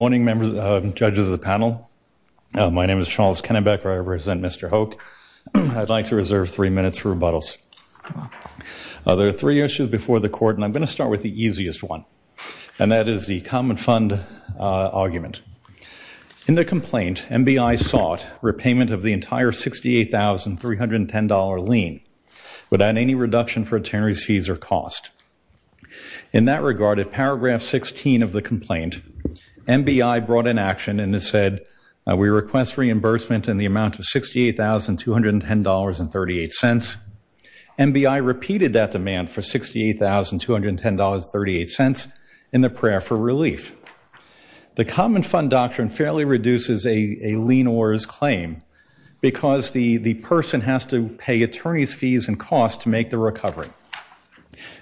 Good morning judges of the panel. My name is Charles Kennebec. I represent Mr. Hoch. I'd like to reserve three minutes for rebuttals. There are three issues before the court and I'm going to start with the easiest one and that is the Common Fund argument. In the complaint, MBI sought repayment of the entire $68,310 lien without any reduction for attorney's fees or cost. In that regard, at paragraph 16 of the complaint, MBI brought in action and it said we request reimbursement in the amount of $68,210.38. MBI repeated that demand for $68,210.38 in the prayer for relief. The Common Fund doctrine fairly reduces a lien or his claim because the the person has to pay attorney's fees and cost to make the recovery.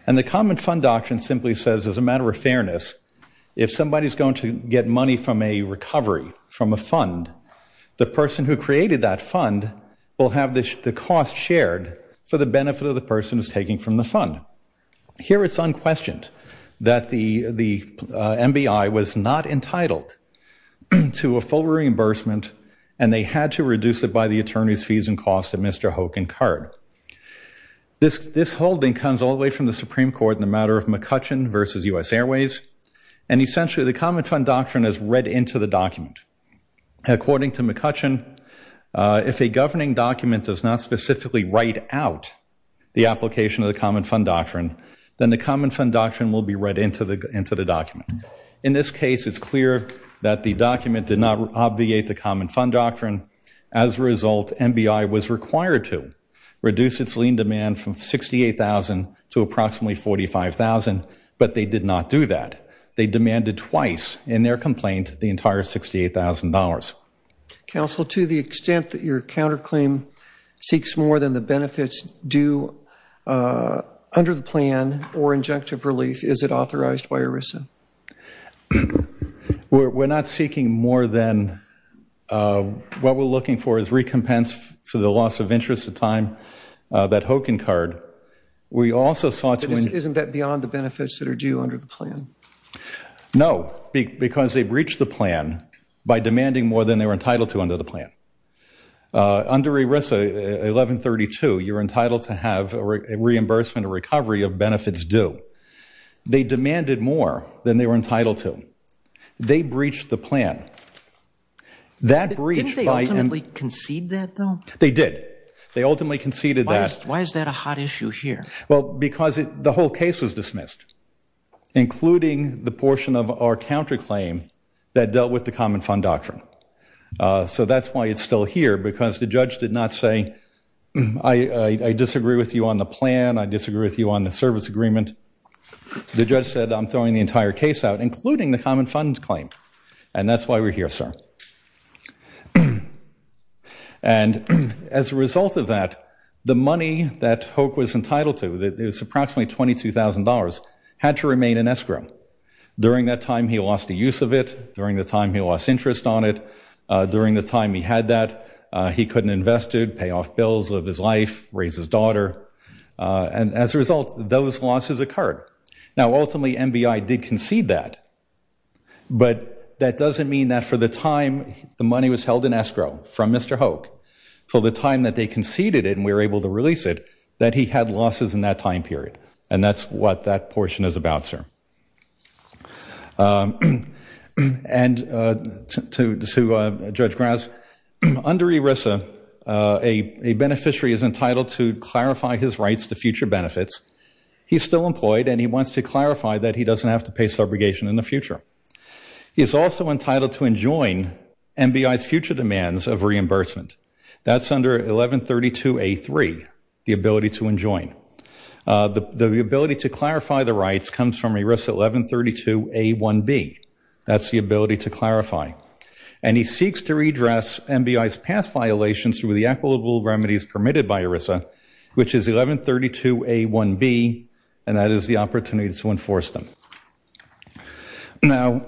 And the Common Fund doctrine simply says as a matter of fairness, if somebody's going to get money from a recovery from a fund, the person who created that fund will have this the cost shared for the benefit of the person is taking from the fund. Here it's unquestioned that the the MBI was not entitled to a full reimbursement and they had to reduce it by the attorney's fees and cost that Mr. Hoch incurred. This holding comes all the way from the Supreme Court in the matter of McCutcheon versus U.S. Airways and essentially the Common Fund doctrine is read into the document. According to McCutcheon, if a governing document does not specifically write out the application of the Common Fund doctrine, then the Common Fund doctrine will be read into the into the document. In this case, it's clear that the document did not obviate the Common Fund doctrine. As a result, MBI was required to reduce its lien demand from $68,000 to approximately $45,000, but they did not do that. They demanded twice in their complaint the entire $68,000. Counsel, to the extent that your counterclaim seeks more than the benefits due under the plan or injunctive relief, is it authorized by ERISA? We're not seeking more than what we're looking for is recompense for the loss of interest of time that Hoch incurred. We also sought to Isn't that beyond the benefits that are due under the plan? No, because they breached the plan by demanding more than they were entitled to under the plan. Under ERISA 1132, you're entitled to have a reimbursement or recovery of benefits due. They demanded more than they were entitled to. They breached the They did. They ultimately conceded that. Why is that a hot issue here? Well, because the whole case was dismissed, including the portion of our counterclaim that dealt with the Common Fund doctrine. So that's why it's still here, because the judge did not say, I disagree with you on the plan, I disagree with you on the service agreement. The judge said, I'm throwing the entire case out, including the Common Fund claim. And that's why we're here, sir. And as a result of that, the money that Hoch was entitled to, that is approximately $22,000, had to remain in escrow. During that time, he lost the use of it. During the time, he lost interest on it. During the time he had that, he couldn't invest it, pay off bills of his life, raise his daughter. And as a result, those losses occurred. Now but that doesn't mean that for the time the money was held in escrow from Mr. Hoch, for the time that they conceded it and we were able to release it, that he had losses in that time period. And that's what that portion is about, sir. And to Judge Grouse, under ERISA, a beneficiary is entitled to clarify his rights to future benefits. He's still employed and he wants to clarify that he has a future. He is also entitled to enjoin MBI's future demands of reimbursement. That's under 1132 A3, the ability to enjoin. The ability to clarify the rights comes from ERISA 1132 A1B. That's the ability to clarify. And he seeks to redress MBI's past violations through the equitable remedies permitted by ERISA, which is 1132 A1B, and that is the opportunity to enforce them. Now,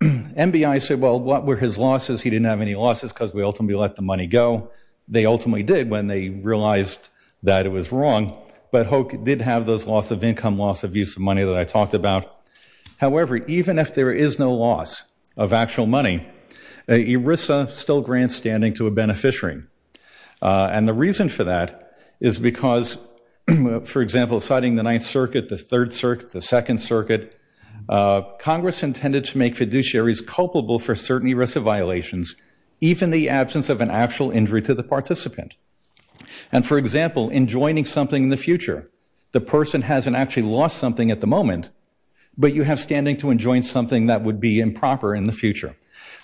MBI said, well, what were his losses? He didn't have any losses because we ultimately let the money go. They ultimately did when they realized that it was wrong. But Hoch did have those loss of income, loss of use of money that I talked about. However, even if there is no loss of actual money, ERISA still grants standing to a beneficiary. And the reason for that is because, for example, citing the Ninth Circuit, the Third Circuit, the Second Circuit, Congress intended to make fiduciaries culpable for certain ERISA violations, even the absence of an actual injury to the participant. And, for example, enjoining something in the future. The person hasn't actually lost something at the moment, but you have standing to enjoin something that would be improper in the future.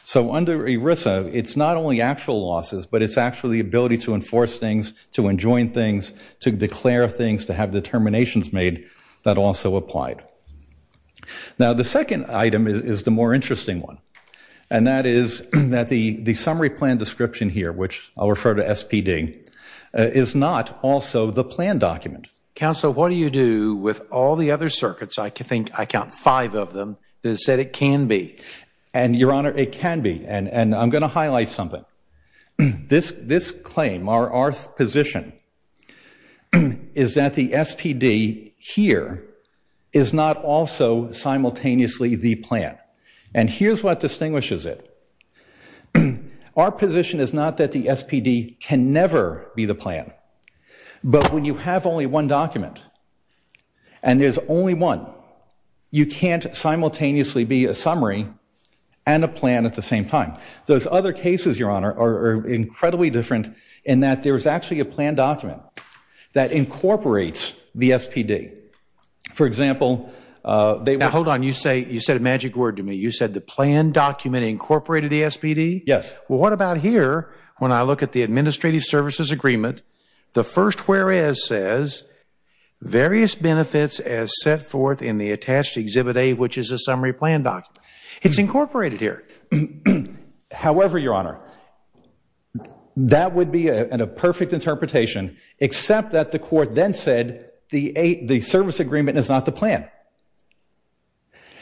So under ERISA, it's not only actual losses, but it's actually the ability to enforce things, to enjoin things, to declare things, to have determinations made that also applied. Now, the second item is the more interesting one, and that is that the the summary plan description here, which I'll refer to SPD, is not also the plan document. Counsel, what do you do with all the other circuits? I think I count five of them that said it can be. And, Your Honor, it can be. And I'm going to highlight something. This claim, our position, is that the SPD here is not also simultaneously the plan. And here's what distinguishes it. Our position is not that the SPD can never be the plan, but when you have only one document, and there's only one, you can't simultaneously be a summary and a plan at the same time. Those other cases, Your Honor, are incredibly different in that there is actually a plan document that incorporates the SPD. For example, they Now, hold on. You said a magic word to me. You said the plan document incorporated the SPD? Yes. Well, what about here, when I look at the Administrative Services Agreement, the first whereas says, various benefits as set forth in the attached Exhibit A, which is a summary plan document. It's incorporated here. However, Your Honor, that would be a perfect interpretation, except that the Court then said the Service Agreement is not the plan.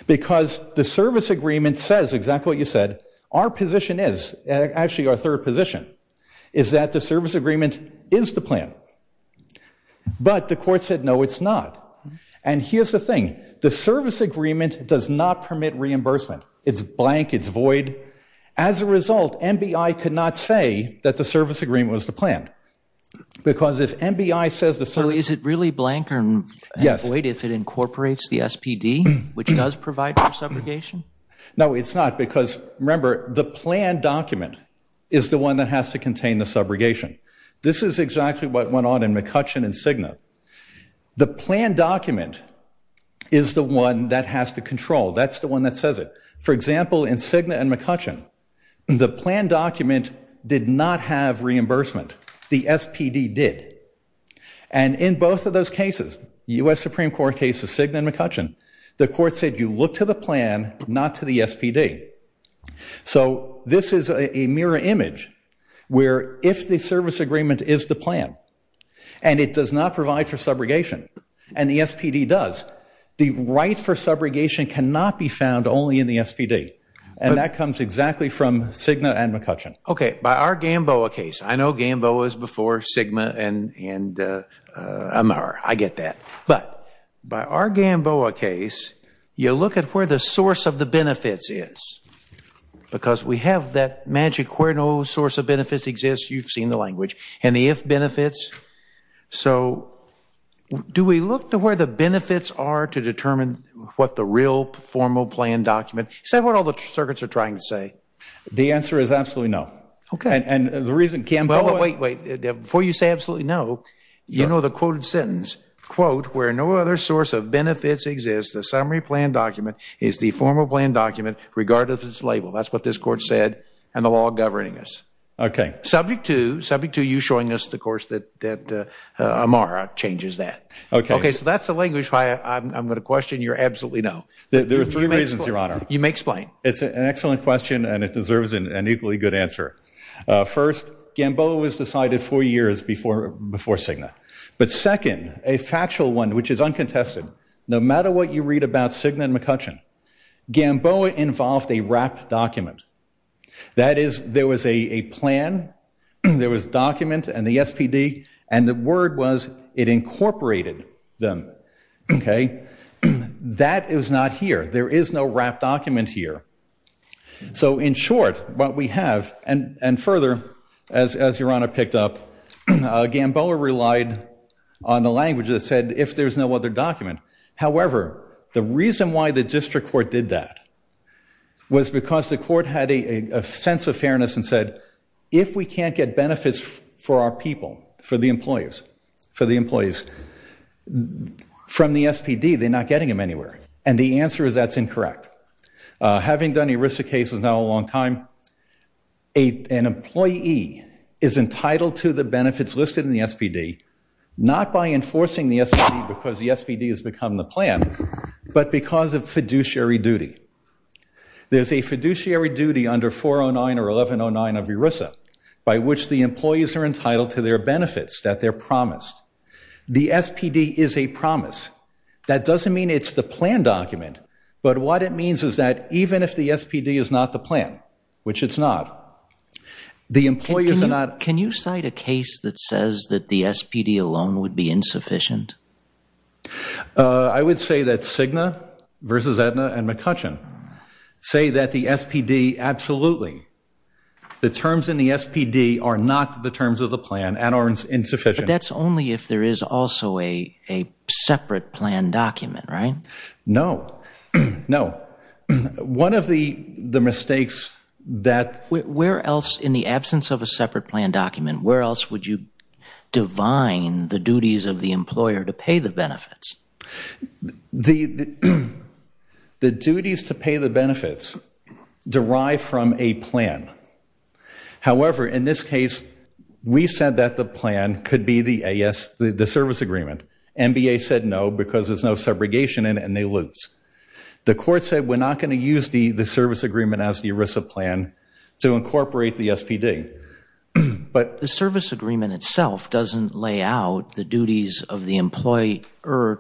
Because the Service Agreement says exactly what you said. Our position is, actually our third position, is that the Service Agreement is the plan. But the Court said, no, it's not. And here's the thing. The Service Agreement does not it's blank, it's void. As a result, MBI could not say that the Service Agreement was the plan. Because if MBI says the service... So is it really blank and void if it incorporates the SPD, which does provide for subrogation? No, it's not. Because remember, the plan document is the one that has to contain the subrogation. This is exactly what went on in McCutcheon and Cigna. The plan document is the one that has to control. That's the one that says it. For example, in Cigna and McCutcheon, the plan document did not have reimbursement. The SPD did. And in both of those cases, U.S. Supreme Court cases Cigna and McCutcheon, the Court said you look to the plan, not to the SPD. So this is a mirror image where if the Service Agreement is the plan, and it does not provide for subrogation, and the subrogation cannot be found only in the SPD. And that comes exactly from Cigna and McCutcheon. Okay, by our Gamboa case, I know Gamboa is before Cigna and Amar. I get that. But by our Gamboa case, you look at where the source of the benefits is. Because we have that magic where no source of benefits exists. You've seen the language. And the if benefits. So do we look to where the benefits are to what the real formal plan document. Is that what all the circuits are trying to say? The answer is absolutely no. Okay. And the reason Gamboa... Wait, wait. Before you say absolutely no, you know the quoted sentence. Quote, where no other source of benefits exists, the summary plan document is the formal plan document regardless of its label. That's what this Court said and the law governing this. Okay. Subject to, subject to you showing us the course that Amar changes that. Okay. Okay, so that's the language why I'm gonna question your absolutely no. There are three reasons, Your Honor. You may explain. It's an excellent question and it deserves an equally good answer. First, Gamboa was decided four years before, before Cigna. But second, a factual one which is uncontested. No matter what you read about Cigna and McCutcheon, Gamboa involved a wrapped document. That is, there was a plan. There was document and the SPD and the word was it incorporated them. Okay. That is not here. There is no wrapped document here. So, in short, what we have and, and further as, as Your Honor picked up, Gamboa relied on the language that said if there's no other document. However, the reason why the District Court did that was because the court had a sense of fairness and said if we can't get benefits for our people, for the employers, for the employees from the SPD, they're not getting them anywhere. And the answer is that's incorrect. Having done ERISA cases now a long time, an employee is entitled to the benefits listed in the SPD, not by enforcing the SPD because the SPD has become the plan, but because of fiduciary duty. There's a plan under 409 or 1109 of ERISA by which the employees are entitled to their benefits that they're promised. The SPD is a promise. That doesn't mean it's the plan document, but what it means is that even if the SPD is not the plan, which it's not, the employers are not. Can you cite a case that says that the SPD alone would be insufficient? I would say that Cigna versus Aetna and McCutcheon say that the SPD, absolutely, the terms in the SPD are not the terms of the plan and are insufficient. But that's only if there is also a separate plan document, right? No, no. One of the the mistakes that... Where else in the absence of a separate plan document, where else would you divine the duties of the employer to pay the benefits? The duties to pay the benefits derive from a plan. However, in this case, we said that the plan could be the service agreement. MBA said no because there's no segregation in it and they lose. The court said we're not going to use the the service agreement as the ERISA plan to incorporate the SPD. But the service agreement itself doesn't lay out the duties of the employer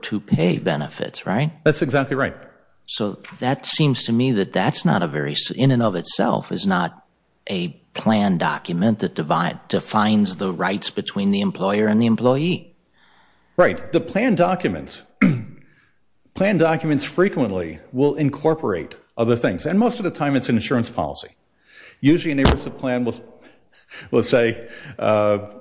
to pay benefits, right? That's exactly right. So that seems to me that that's not a very... in and of itself is not a plan document that defines the rights between the employer and the employee. Right. The plan documents, plan documents frequently will incorporate other things and most of the time it's an insurance policy. Usually an ERISA plan will say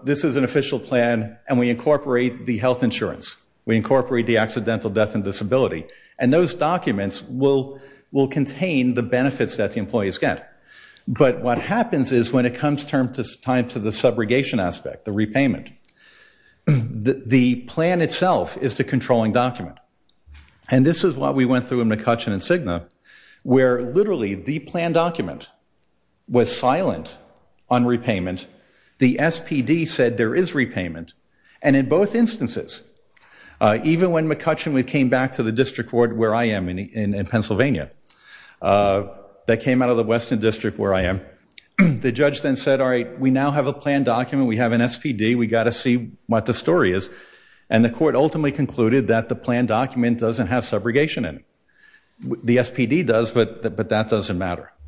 this is an official plan and we incorporate the health insurance. We incorporate the accidental death and disability. And those documents will will contain the benefits that the employees get. But what happens is when it comes time to the subrogation aspect, the repayment, the plan itself is the controlling document. And this is what we went through in McCutcheon and Cigna, where literally the plan document was silent on repayment. The SPD said there is repayment. And in both instances, even when McCutcheon came back to the district court where I am in Pennsylvania, that came out of the Western District where I am, the judge then said all right we now have a plan document, we have an SPD, we got to see what the story is. And the court ultimately concluded that the plan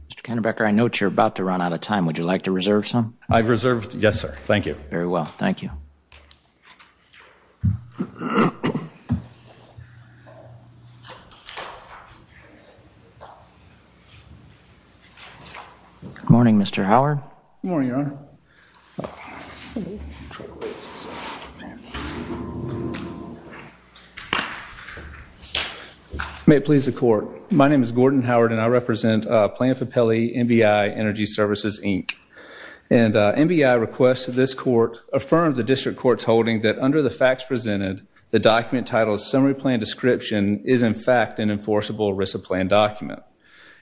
Mr. Kennebecker, I note you're about to run out of time. Would you like to reserve some? I've reserved, yes sir, thank you. Very well, thank you. Good morning Mr. Howard. Good morning, Your Honor. May it please the court, my name is Gordon Howard and I represent Plano-Fapelli NBI Energy Services Inc. And NBI requests that this court affirm the district court's holding that under the facts presented, the document titled Summary Plan Description is in fact an enforceable ERISA plan document.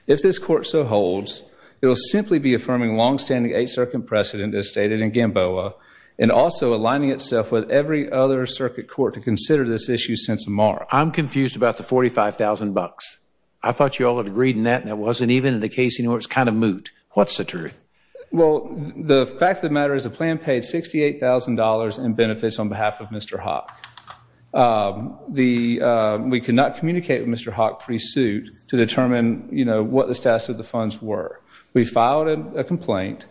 If this court so holds, it will simply be affirming long-standing eight-circuit precedent as stated in Gamboa and also aligning itself with every other circuit court to consider this issue since tomorrow. I'm confused about the 45,000 bucks. I thought you all had agreed in that and it wasn't even in the case, you know, it's kind of moot. What's the truth? Well, the fact of the matter is the plan paid $68,000 in benefits on behalf of Mr. Hawk. We could not communicate with Mr. Hawk pre-suit to determine, you know, what the status of funds were. We filed a complaint.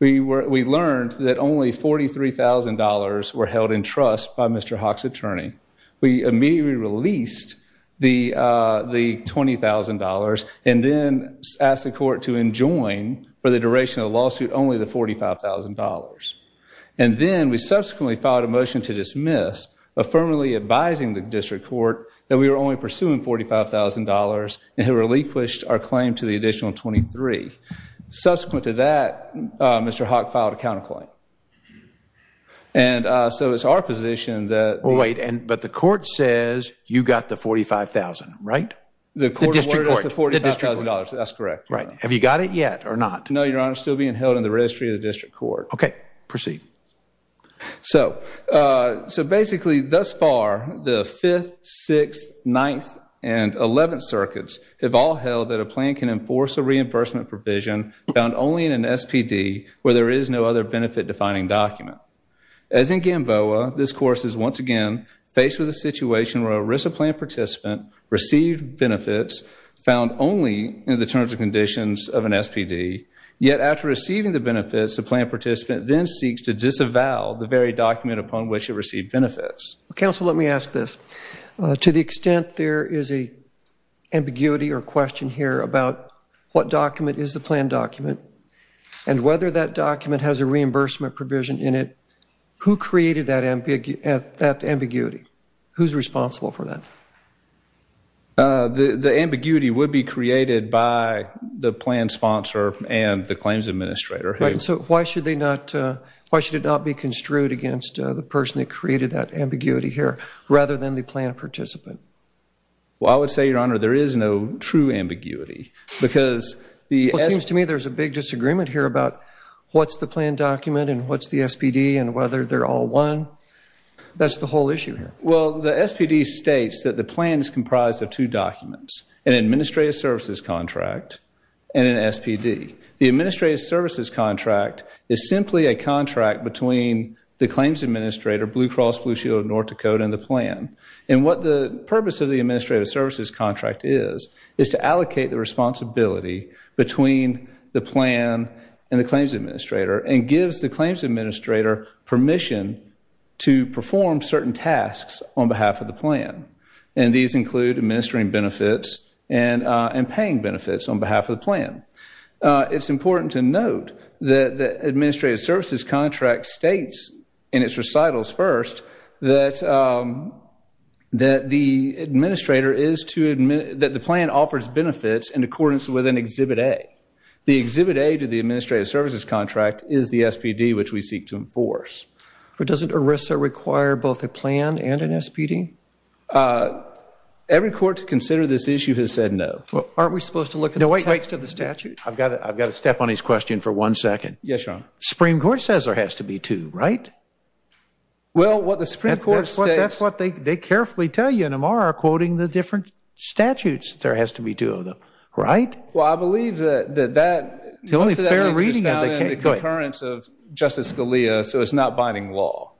We learned that only $43,000 were held in trust by Mr. Hawk's attorney. We immediately released the $20,000 and then asked the court to enjoin for the duration of the lawsuit only the $45,000. And then we subsequently filed a motion to dismiss, affirmatively advising the district court that we were only pursuing $45,000 and had relinquished our claim to the additional $23,000. Subsequent to that, Mr. Hawk filed a counterclaim. And so it's our position that... Wait, but the court says you got the $45,000, right? The court awarded us the $45,000. That's correct. Right. Have you got it yet or not? No, Your Honor. It's still being held in the registry of the district court. Okay. Proceed. So basically thus far, the 5th, 6th, 9th, and 11th circuits have all that a plan can enforce a reimbursement provision found only in an SPD where there is no other benefit-defining document. As in Gamboa, this course is once again faced with a situation where a RISA plan participant received benefits found only in the terms and conditions of an SPD. Yet after receiving the benefits, the plan participant then seeks to disavow the very document upon which it received benefits. Counsel, let me ask this. To the extent there is a ambiguity or question here about what document is the plan document and whether that document has a reimbursement provision in it, who created that ambiguity? Who's responsible for that? The ambiguity would be created by the plan sponsor and the claims administrator. Right. So why should they not... Why should it not be construed against the person that created that ambiguity here rather than the plan participant? Well, I would say, Your Honor, there is no true ambiguity because the... It seems to me there's a big disagreement here about what's the plan document and what's the SPD and whether they're all one. That's the whole issue here. Well, the SPD states that the plan is comprised of two documents, an administrative services contract and an SPD. The administrative services contract is simply a contract between the claims administrator, Blue Cross Blue Shield of North Dakota, and the plan. And what the administrative services contract is, is to allocate the responsibility between the plan and the claims administrator and gives the claims administrator permission to perform certain tasks on behalf of the plan. And these include administering benefits and paying benefits on behalf of the plan. It's important to note that the administrative services contract states in its recitals first that the administrator is to admit that the plan offers benefits in accordance with an Exhibit A. The Exhibit A to the administrative services contract is the SPD which we seek to enforce. But doesn't ERISA require both a plan and an SPD? Every court to consider this issue has said no. Well, aren't we supposed to look at the text of the statute? I've got it. I've got to step on his question for one second. Yes, Your Honor. Supreme Court says there has to be two, right? Well, what the Supreme Court states... That's what they carefully tell you. And Amar are quoting the different statutes that there has to be two of them, right? Well, I believe that that... It's the only fair reading of the case. ...the concurrence of Justice Scalia, so it's not binding law.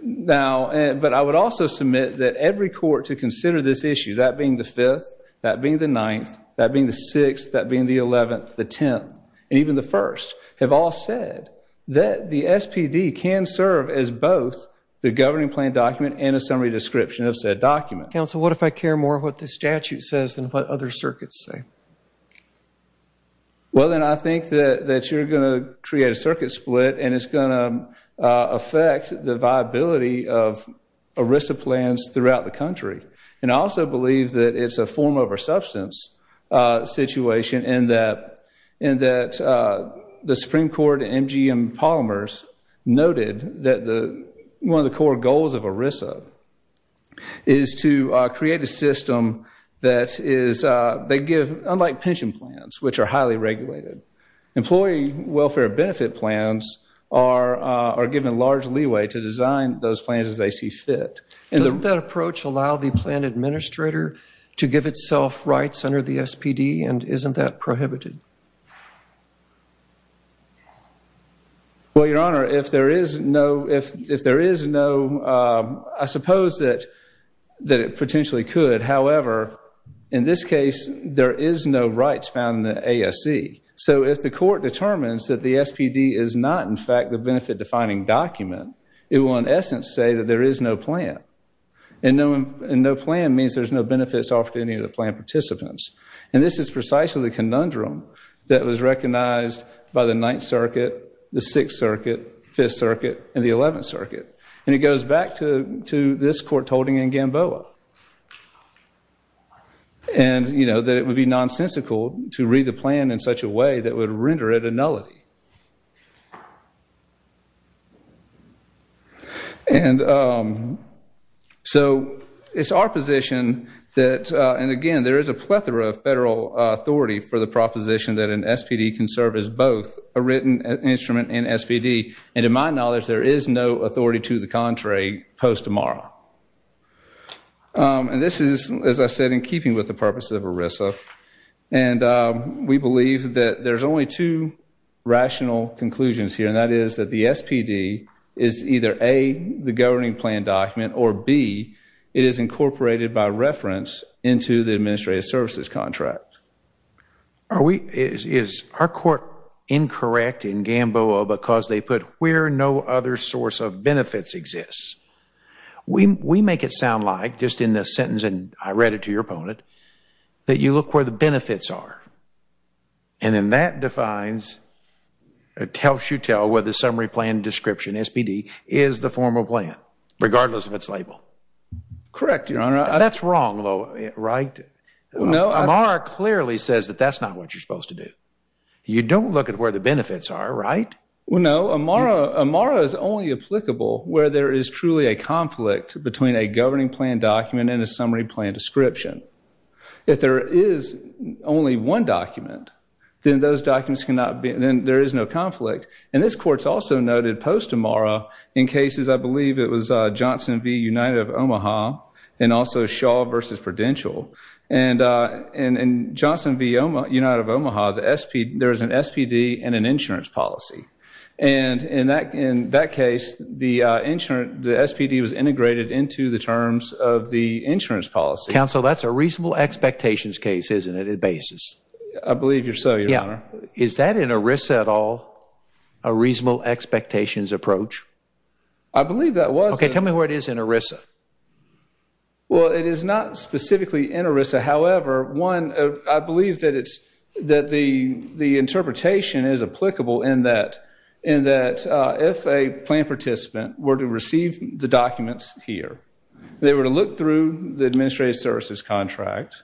Now, but I would also submit that every court to consider this issue, that being the Fifth, that being the Ninth, that being the Sixth, that being the Eleventh, the Tenth, and even the First, have all said that the SPD can serve as both the governing plan document and a summary description of said document. Counsel, what if I care more what the statute says than what other circuits say? Well, then I think that that you're going to create a circuit split and it's going to affect the viability of ERISA plans throughout the country. And I also believe that it's a form-over-substance situation in that the Supreme Court and MGM Polymers noted that one of the core goals of ERISA is to create a system that is... They give, unlike pension plans, which are highly regulated, employee welfare benefit plans are given large leeway to design those plans as they see fit. Doesn't that approach allow the plan administrator to give itself rights under the SPD and isn't that prohibited? Well, Your Honor, if there is no... If there is no... I suppose that it potentially could. However, in this case, there is no rights found in the ASC. So if the court determines that the SPD is not, in fact, the benefit-defining document, it will, in essence, say that there is no plan. And no plan means there's no benefits offered to any of the plan participants. And this is precisely the conundrum that was recognized by the Ninth Circuit, the Sixth Circuit, Fifth Circuit, and the Eleventh Circuit. And it goes back to this court holding in Gamboa. And, you know, that it would be nonsensical to read the nullity. And so it's our position that, and again, there is a plethora of federal authority for the proposition that an SPD can serve as both a written instrument and SPD. And to my knowledge, there is no authority to the contrary post Amara. And this is, as I said, in keeping with the purpose of ERISA. And we believe that there's only two rational conclusions here. And that is that the SPD is either A, the governing plan document, or B, it is incorporated by reference into the administrative services contract. Are we, is our court incorrect in Gamboa because they put where no other source of benefits exists? We make it sound like, just in this sentence, and I read it to your opponent, that you look where the benefits are. And then that defines, it helps you tell where the summary plan description, SPD, is the formal plan, regardless of its label. Correct, Your Honor. That's wrong though, right? No. Amara clearly says that that's not what you're supposed to do. You don't look at where the benefits are, right? Well, no. Amara is only applicable where there is truly a conflict between a governing plan document and a summary plan description. If there is only one document, then those documents cannot be, then there is no conflict. And this court's also noted post-Amara in cases, I believe it was Johnson v. United of Omaha, and also Shaw versus Prudential. And in Johnson v. United of Omaha, the SPD, there is an SPD and an insurance policy. And in that, in that case, the insurance, the SPD was Counsel, that's a reasonable expectations case, isn't it? A basis. I believe you're so, Your Honor. Is that in ERISA at all, a reasonable expectations approach? I believe that was. Okay, tell me where it is in ERISA. Well, it is not specifically in ERISA. However, one, I believe that it's, that the, the interpretation is applicable in that, in that if a plan participant were to receive the documents here, they were to go through the Administrative Services Contract,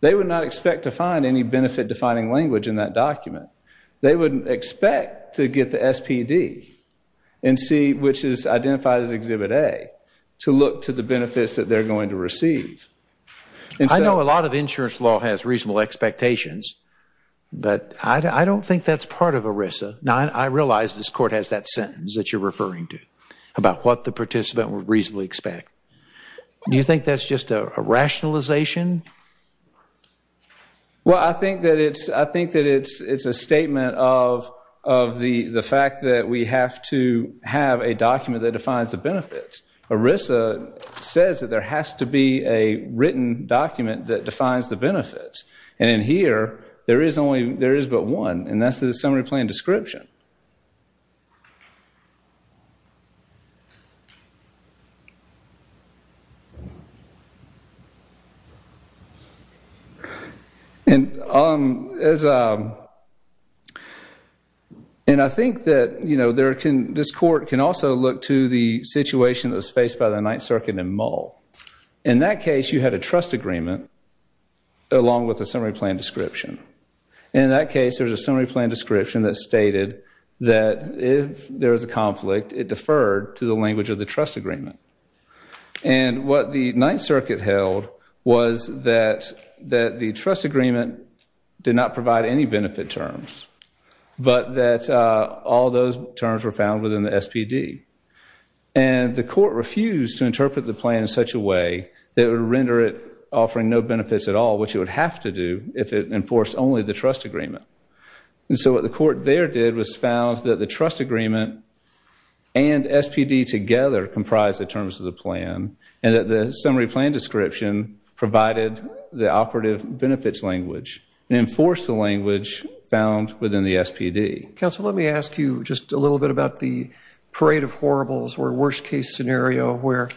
they would not expect to find any benefit-defining language in that document. They wouldn't expect to get the SPD and see, which is identified as Exhibit A, to look to the benefits that they're going to receive. I know a lot of insurance law has reasonable expectations, but I don't think that's part of ERISA. Now, I realize this court has that sentence that you're referring to, about what the participant would reasonably expect. Do you think that's just a rationalization? Well, I think that it's, I think that it's, it's a statement of, of the, the fact that we have to have a document that defines the benefits. ERISA says that there has to be a written document that defines the benefits, and in here, there is only, there is but one, and that's the Summary Plan Description. And as, and I think that, you know, there can, this court can also look to the situation that was faced by the Ninth Circuit in Mull. In that case, you had a trust agreement along with a Summary Plan Description. In that case, there's a Summary Plan Description that stated that if there is a conflict, it deferred to the language of the trust agreement. And what the Ninth Circuit held was that, that the trust agreement did not provide any benefit terms, but that all those terms were found within the SPD. And the court refused to interpret the plan in such a way that would render it offering no benefits at all, which it would have to do if it enforced only the trust agreement. And so what the court there did was found that the trust agreement and SPD together comprised the terms of the plan, and that the Summary Plan Description provided the operative benefits language and enforced the language found within the SPD. Counsel, let me ask you just a little bit about the Parade of Horribles or worst-case scenario where,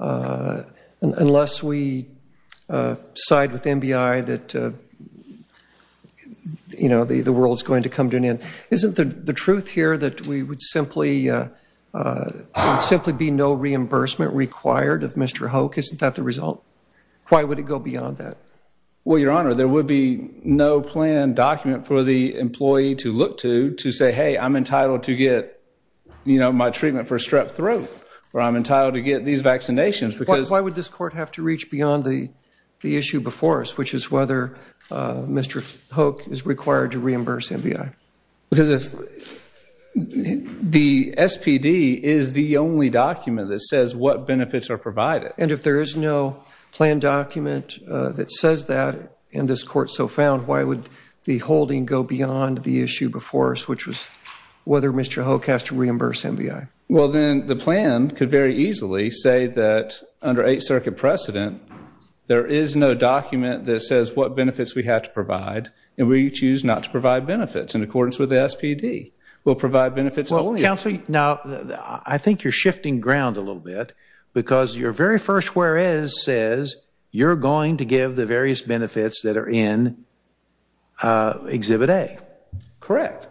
unless we side with MBI that, you know, the world's going to come to an end. Isn't the truth here that we would simply, simply be no reimbursement required of Mr. Hoke? Isn't that the result? Why would it go beyond that? Well, Your Honor, there would be no plan document for the employee to look to, to say, hey, I'm entitled to get, you know, my treatment for a strep throat, or I'm entitled to get these vaccinations because... Why would this court have to reach beyond the issue before us, which is whether Mr. Hoke is required to reimburse MBI? Because the SPD is the only document that says what benefits are provided. And if there is no plan document that says that, and this court so found, why would the holding go beyond the issue before us, which was whether Mr. Hoke has to reimburse MBI? Well, then the plan could very easily say that, under Eighth Circuit precedent, there is no document that says what benefits we have to provide, and we choose not to provide benefits in accordance with the SPD. We'll provide benefits only... Counselor, now, I think you're shifting ground a little bit, because your very first whereas says you're going to give the various benefits that are in Exhibit A. Correct.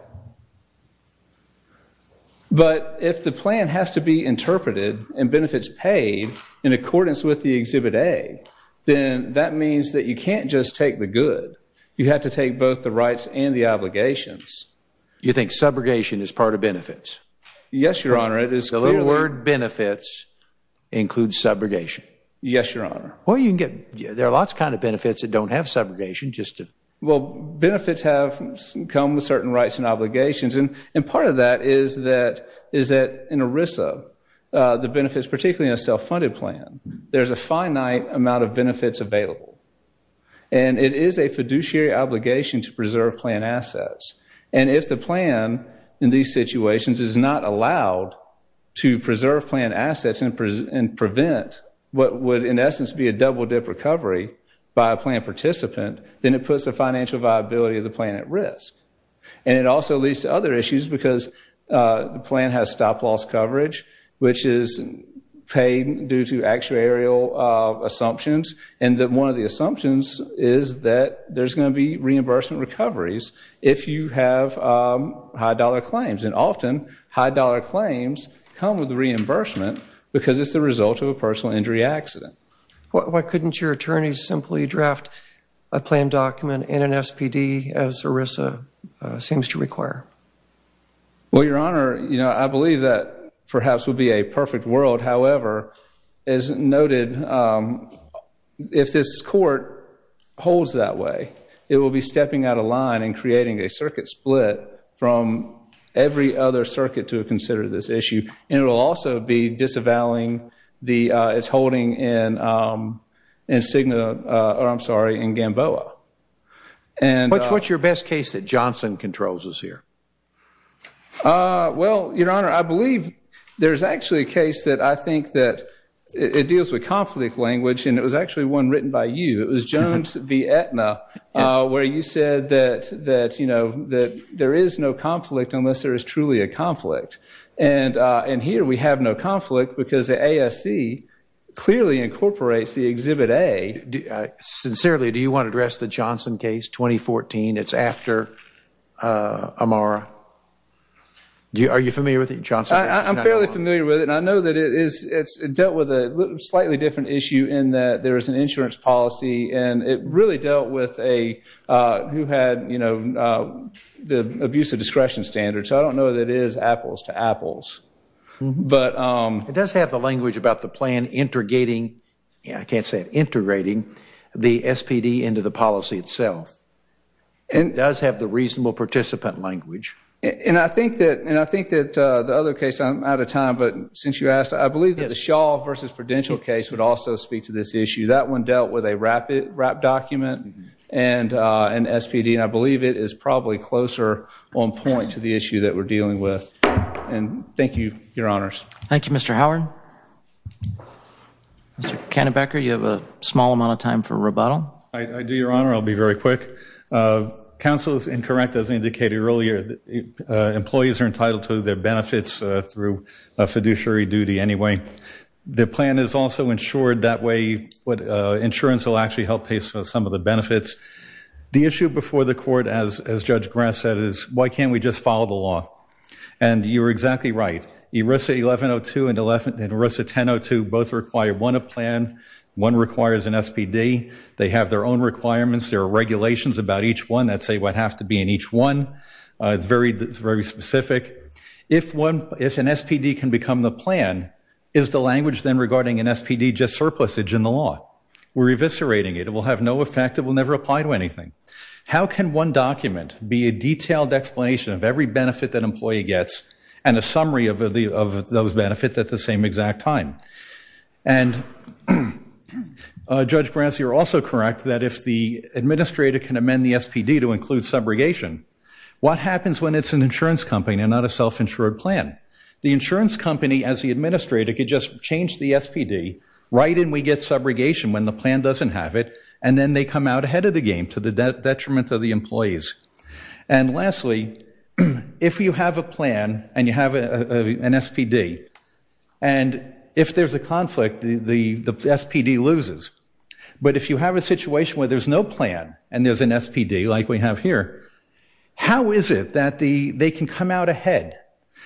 But if the plan has to be interpreted and benefits paid in accordance with the plan, that means that you can't just take the good. You have to take both the rights and the obligations. You think subrogation is part of benefits? Yes, Your Honor. It is clearly... The little word benefits includes subrogation? Yes, Your Honor. Well, you can get... There are lots of kinds of benefits that don't have subrogation. Well, benefits have come with certain rights and obligations, and part of that is that in ERISA, the benefits, particularly in a self-funded plan, there's a finite amount of benefits available. And it is a fiduciary obligation to preserve plan assets. And if the plan, in these situations, is not allowed to preserve plan assets and prevent what would, in essence, be a double-dip recovery by a plan participant, then it puts the financial viability of the plan at risk. And it also leads to other issues, because the plan has stop-loss coverage, which is paid due to actuarial assumptions. And one of the assumptions is that there's going to be reimbursement recoveries if you have high-dollar claims. And often, high-dollar claims come with reimbursement because it's the result of a personal injury accident. Why couldn't your attorneys simply draft a plan document in an SPD, as ERISA seems to require? Well, Your Honor, I believe that perhaps would be a perfect world. However, as noted, if this Court holds that way, it will be stepping out of line and creating a circuit split from every other circuit to consider this issue. And it will also be disavowing its holding in Gamboa. What's your best case that Johnson controls is here? Well, Your Honor, I believe there's actually a case that I think that it deals with conflict language, and it was actually one written by you. It was Jones v. Aetna, where you said that there is no conflict unless there is truly a conflict. And here we have no conflict because the ASC clearly incorporates the Exhibit A. Sincerely, do you want to address the Johnson case, 2014? It's after Amara. Are you familiar with it, Johnson? I'm fairly familiar with it, and I know that it's dealt with a slightly different issue in that there is an insurance policy, and it really dealt with a, who had, you know, the abuse of discretion standard. So I don't know that it is apples to apples. It does have the language about the plan integrating, I can't say it, integrating the SPD into the policy itself. It does have the reasonable participant language. And I think that the other case, I'm out of time, but since you asked, I believe that the Shaw v. Prudential case would also speak to this issue. That one dealt with a RAP document and SPD, and I believe it is probably closer on point to the issue that we're dealing with. And thank you, Your Honors. Thank you, Mr. Howard. Mr. Kennebecker, you have a small amount of time for rebuttal. I do, Your Honor. I'll be very quick. Counsel is incorrect, as indicated earlier. Employees are entitled to their benefits through fiduciary duty anyway. The plan is also insured, that way insurance will actually help pay some of the benefits. The issue before the Court, as Judge Grass said, is why can't we just follow the law? And you're exactly right. ERISA 1102 and ERISA 1002 both require one plan, one requires an SPD. They have their own requirements. There are regulations about each one that say what has to be in each one. It's very specific. If an SPD can become the plan, is the language then regarding an SPD just surplusage in the law? We're eviscerating it. It will have no effect. It will never apply to anything. How can one document be a detailed explanation of every benefit that an employee gets and a summary of those benefits at the same exact time? And Judge Grass, you're also correct that if the administrator can amend the SPD to include subrogation, what happens when it's an insurance company and not a self-insured plan? The insurance company, as the administrator, could just change the SPD, write and we get subrogation when the plan doesn't have it, and then they come out ahead of the game to the detriment of the employees. And lastly, if you have a plan and you have an SPD, and if there's a conflict, the SPD loses. But if you have a situation where there's no plan and there's an SPD, like we have here, how is it that they can come out ahead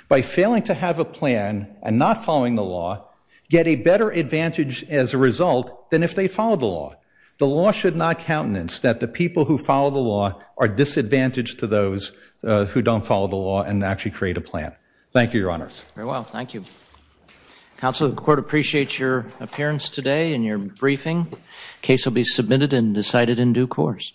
by failing to have a plan and not following the law, get a better advantage as a result than if they followed the law? The law should not countenance that the people who follow the law are disadvantaged to those who don't follow the law and actually create a plan. Thank you, Your Honors. Very well, thank you. Counsel, the Court appreciates your appearance today and your briefing. The case will be submitted and decided in due course. Thank you, sir.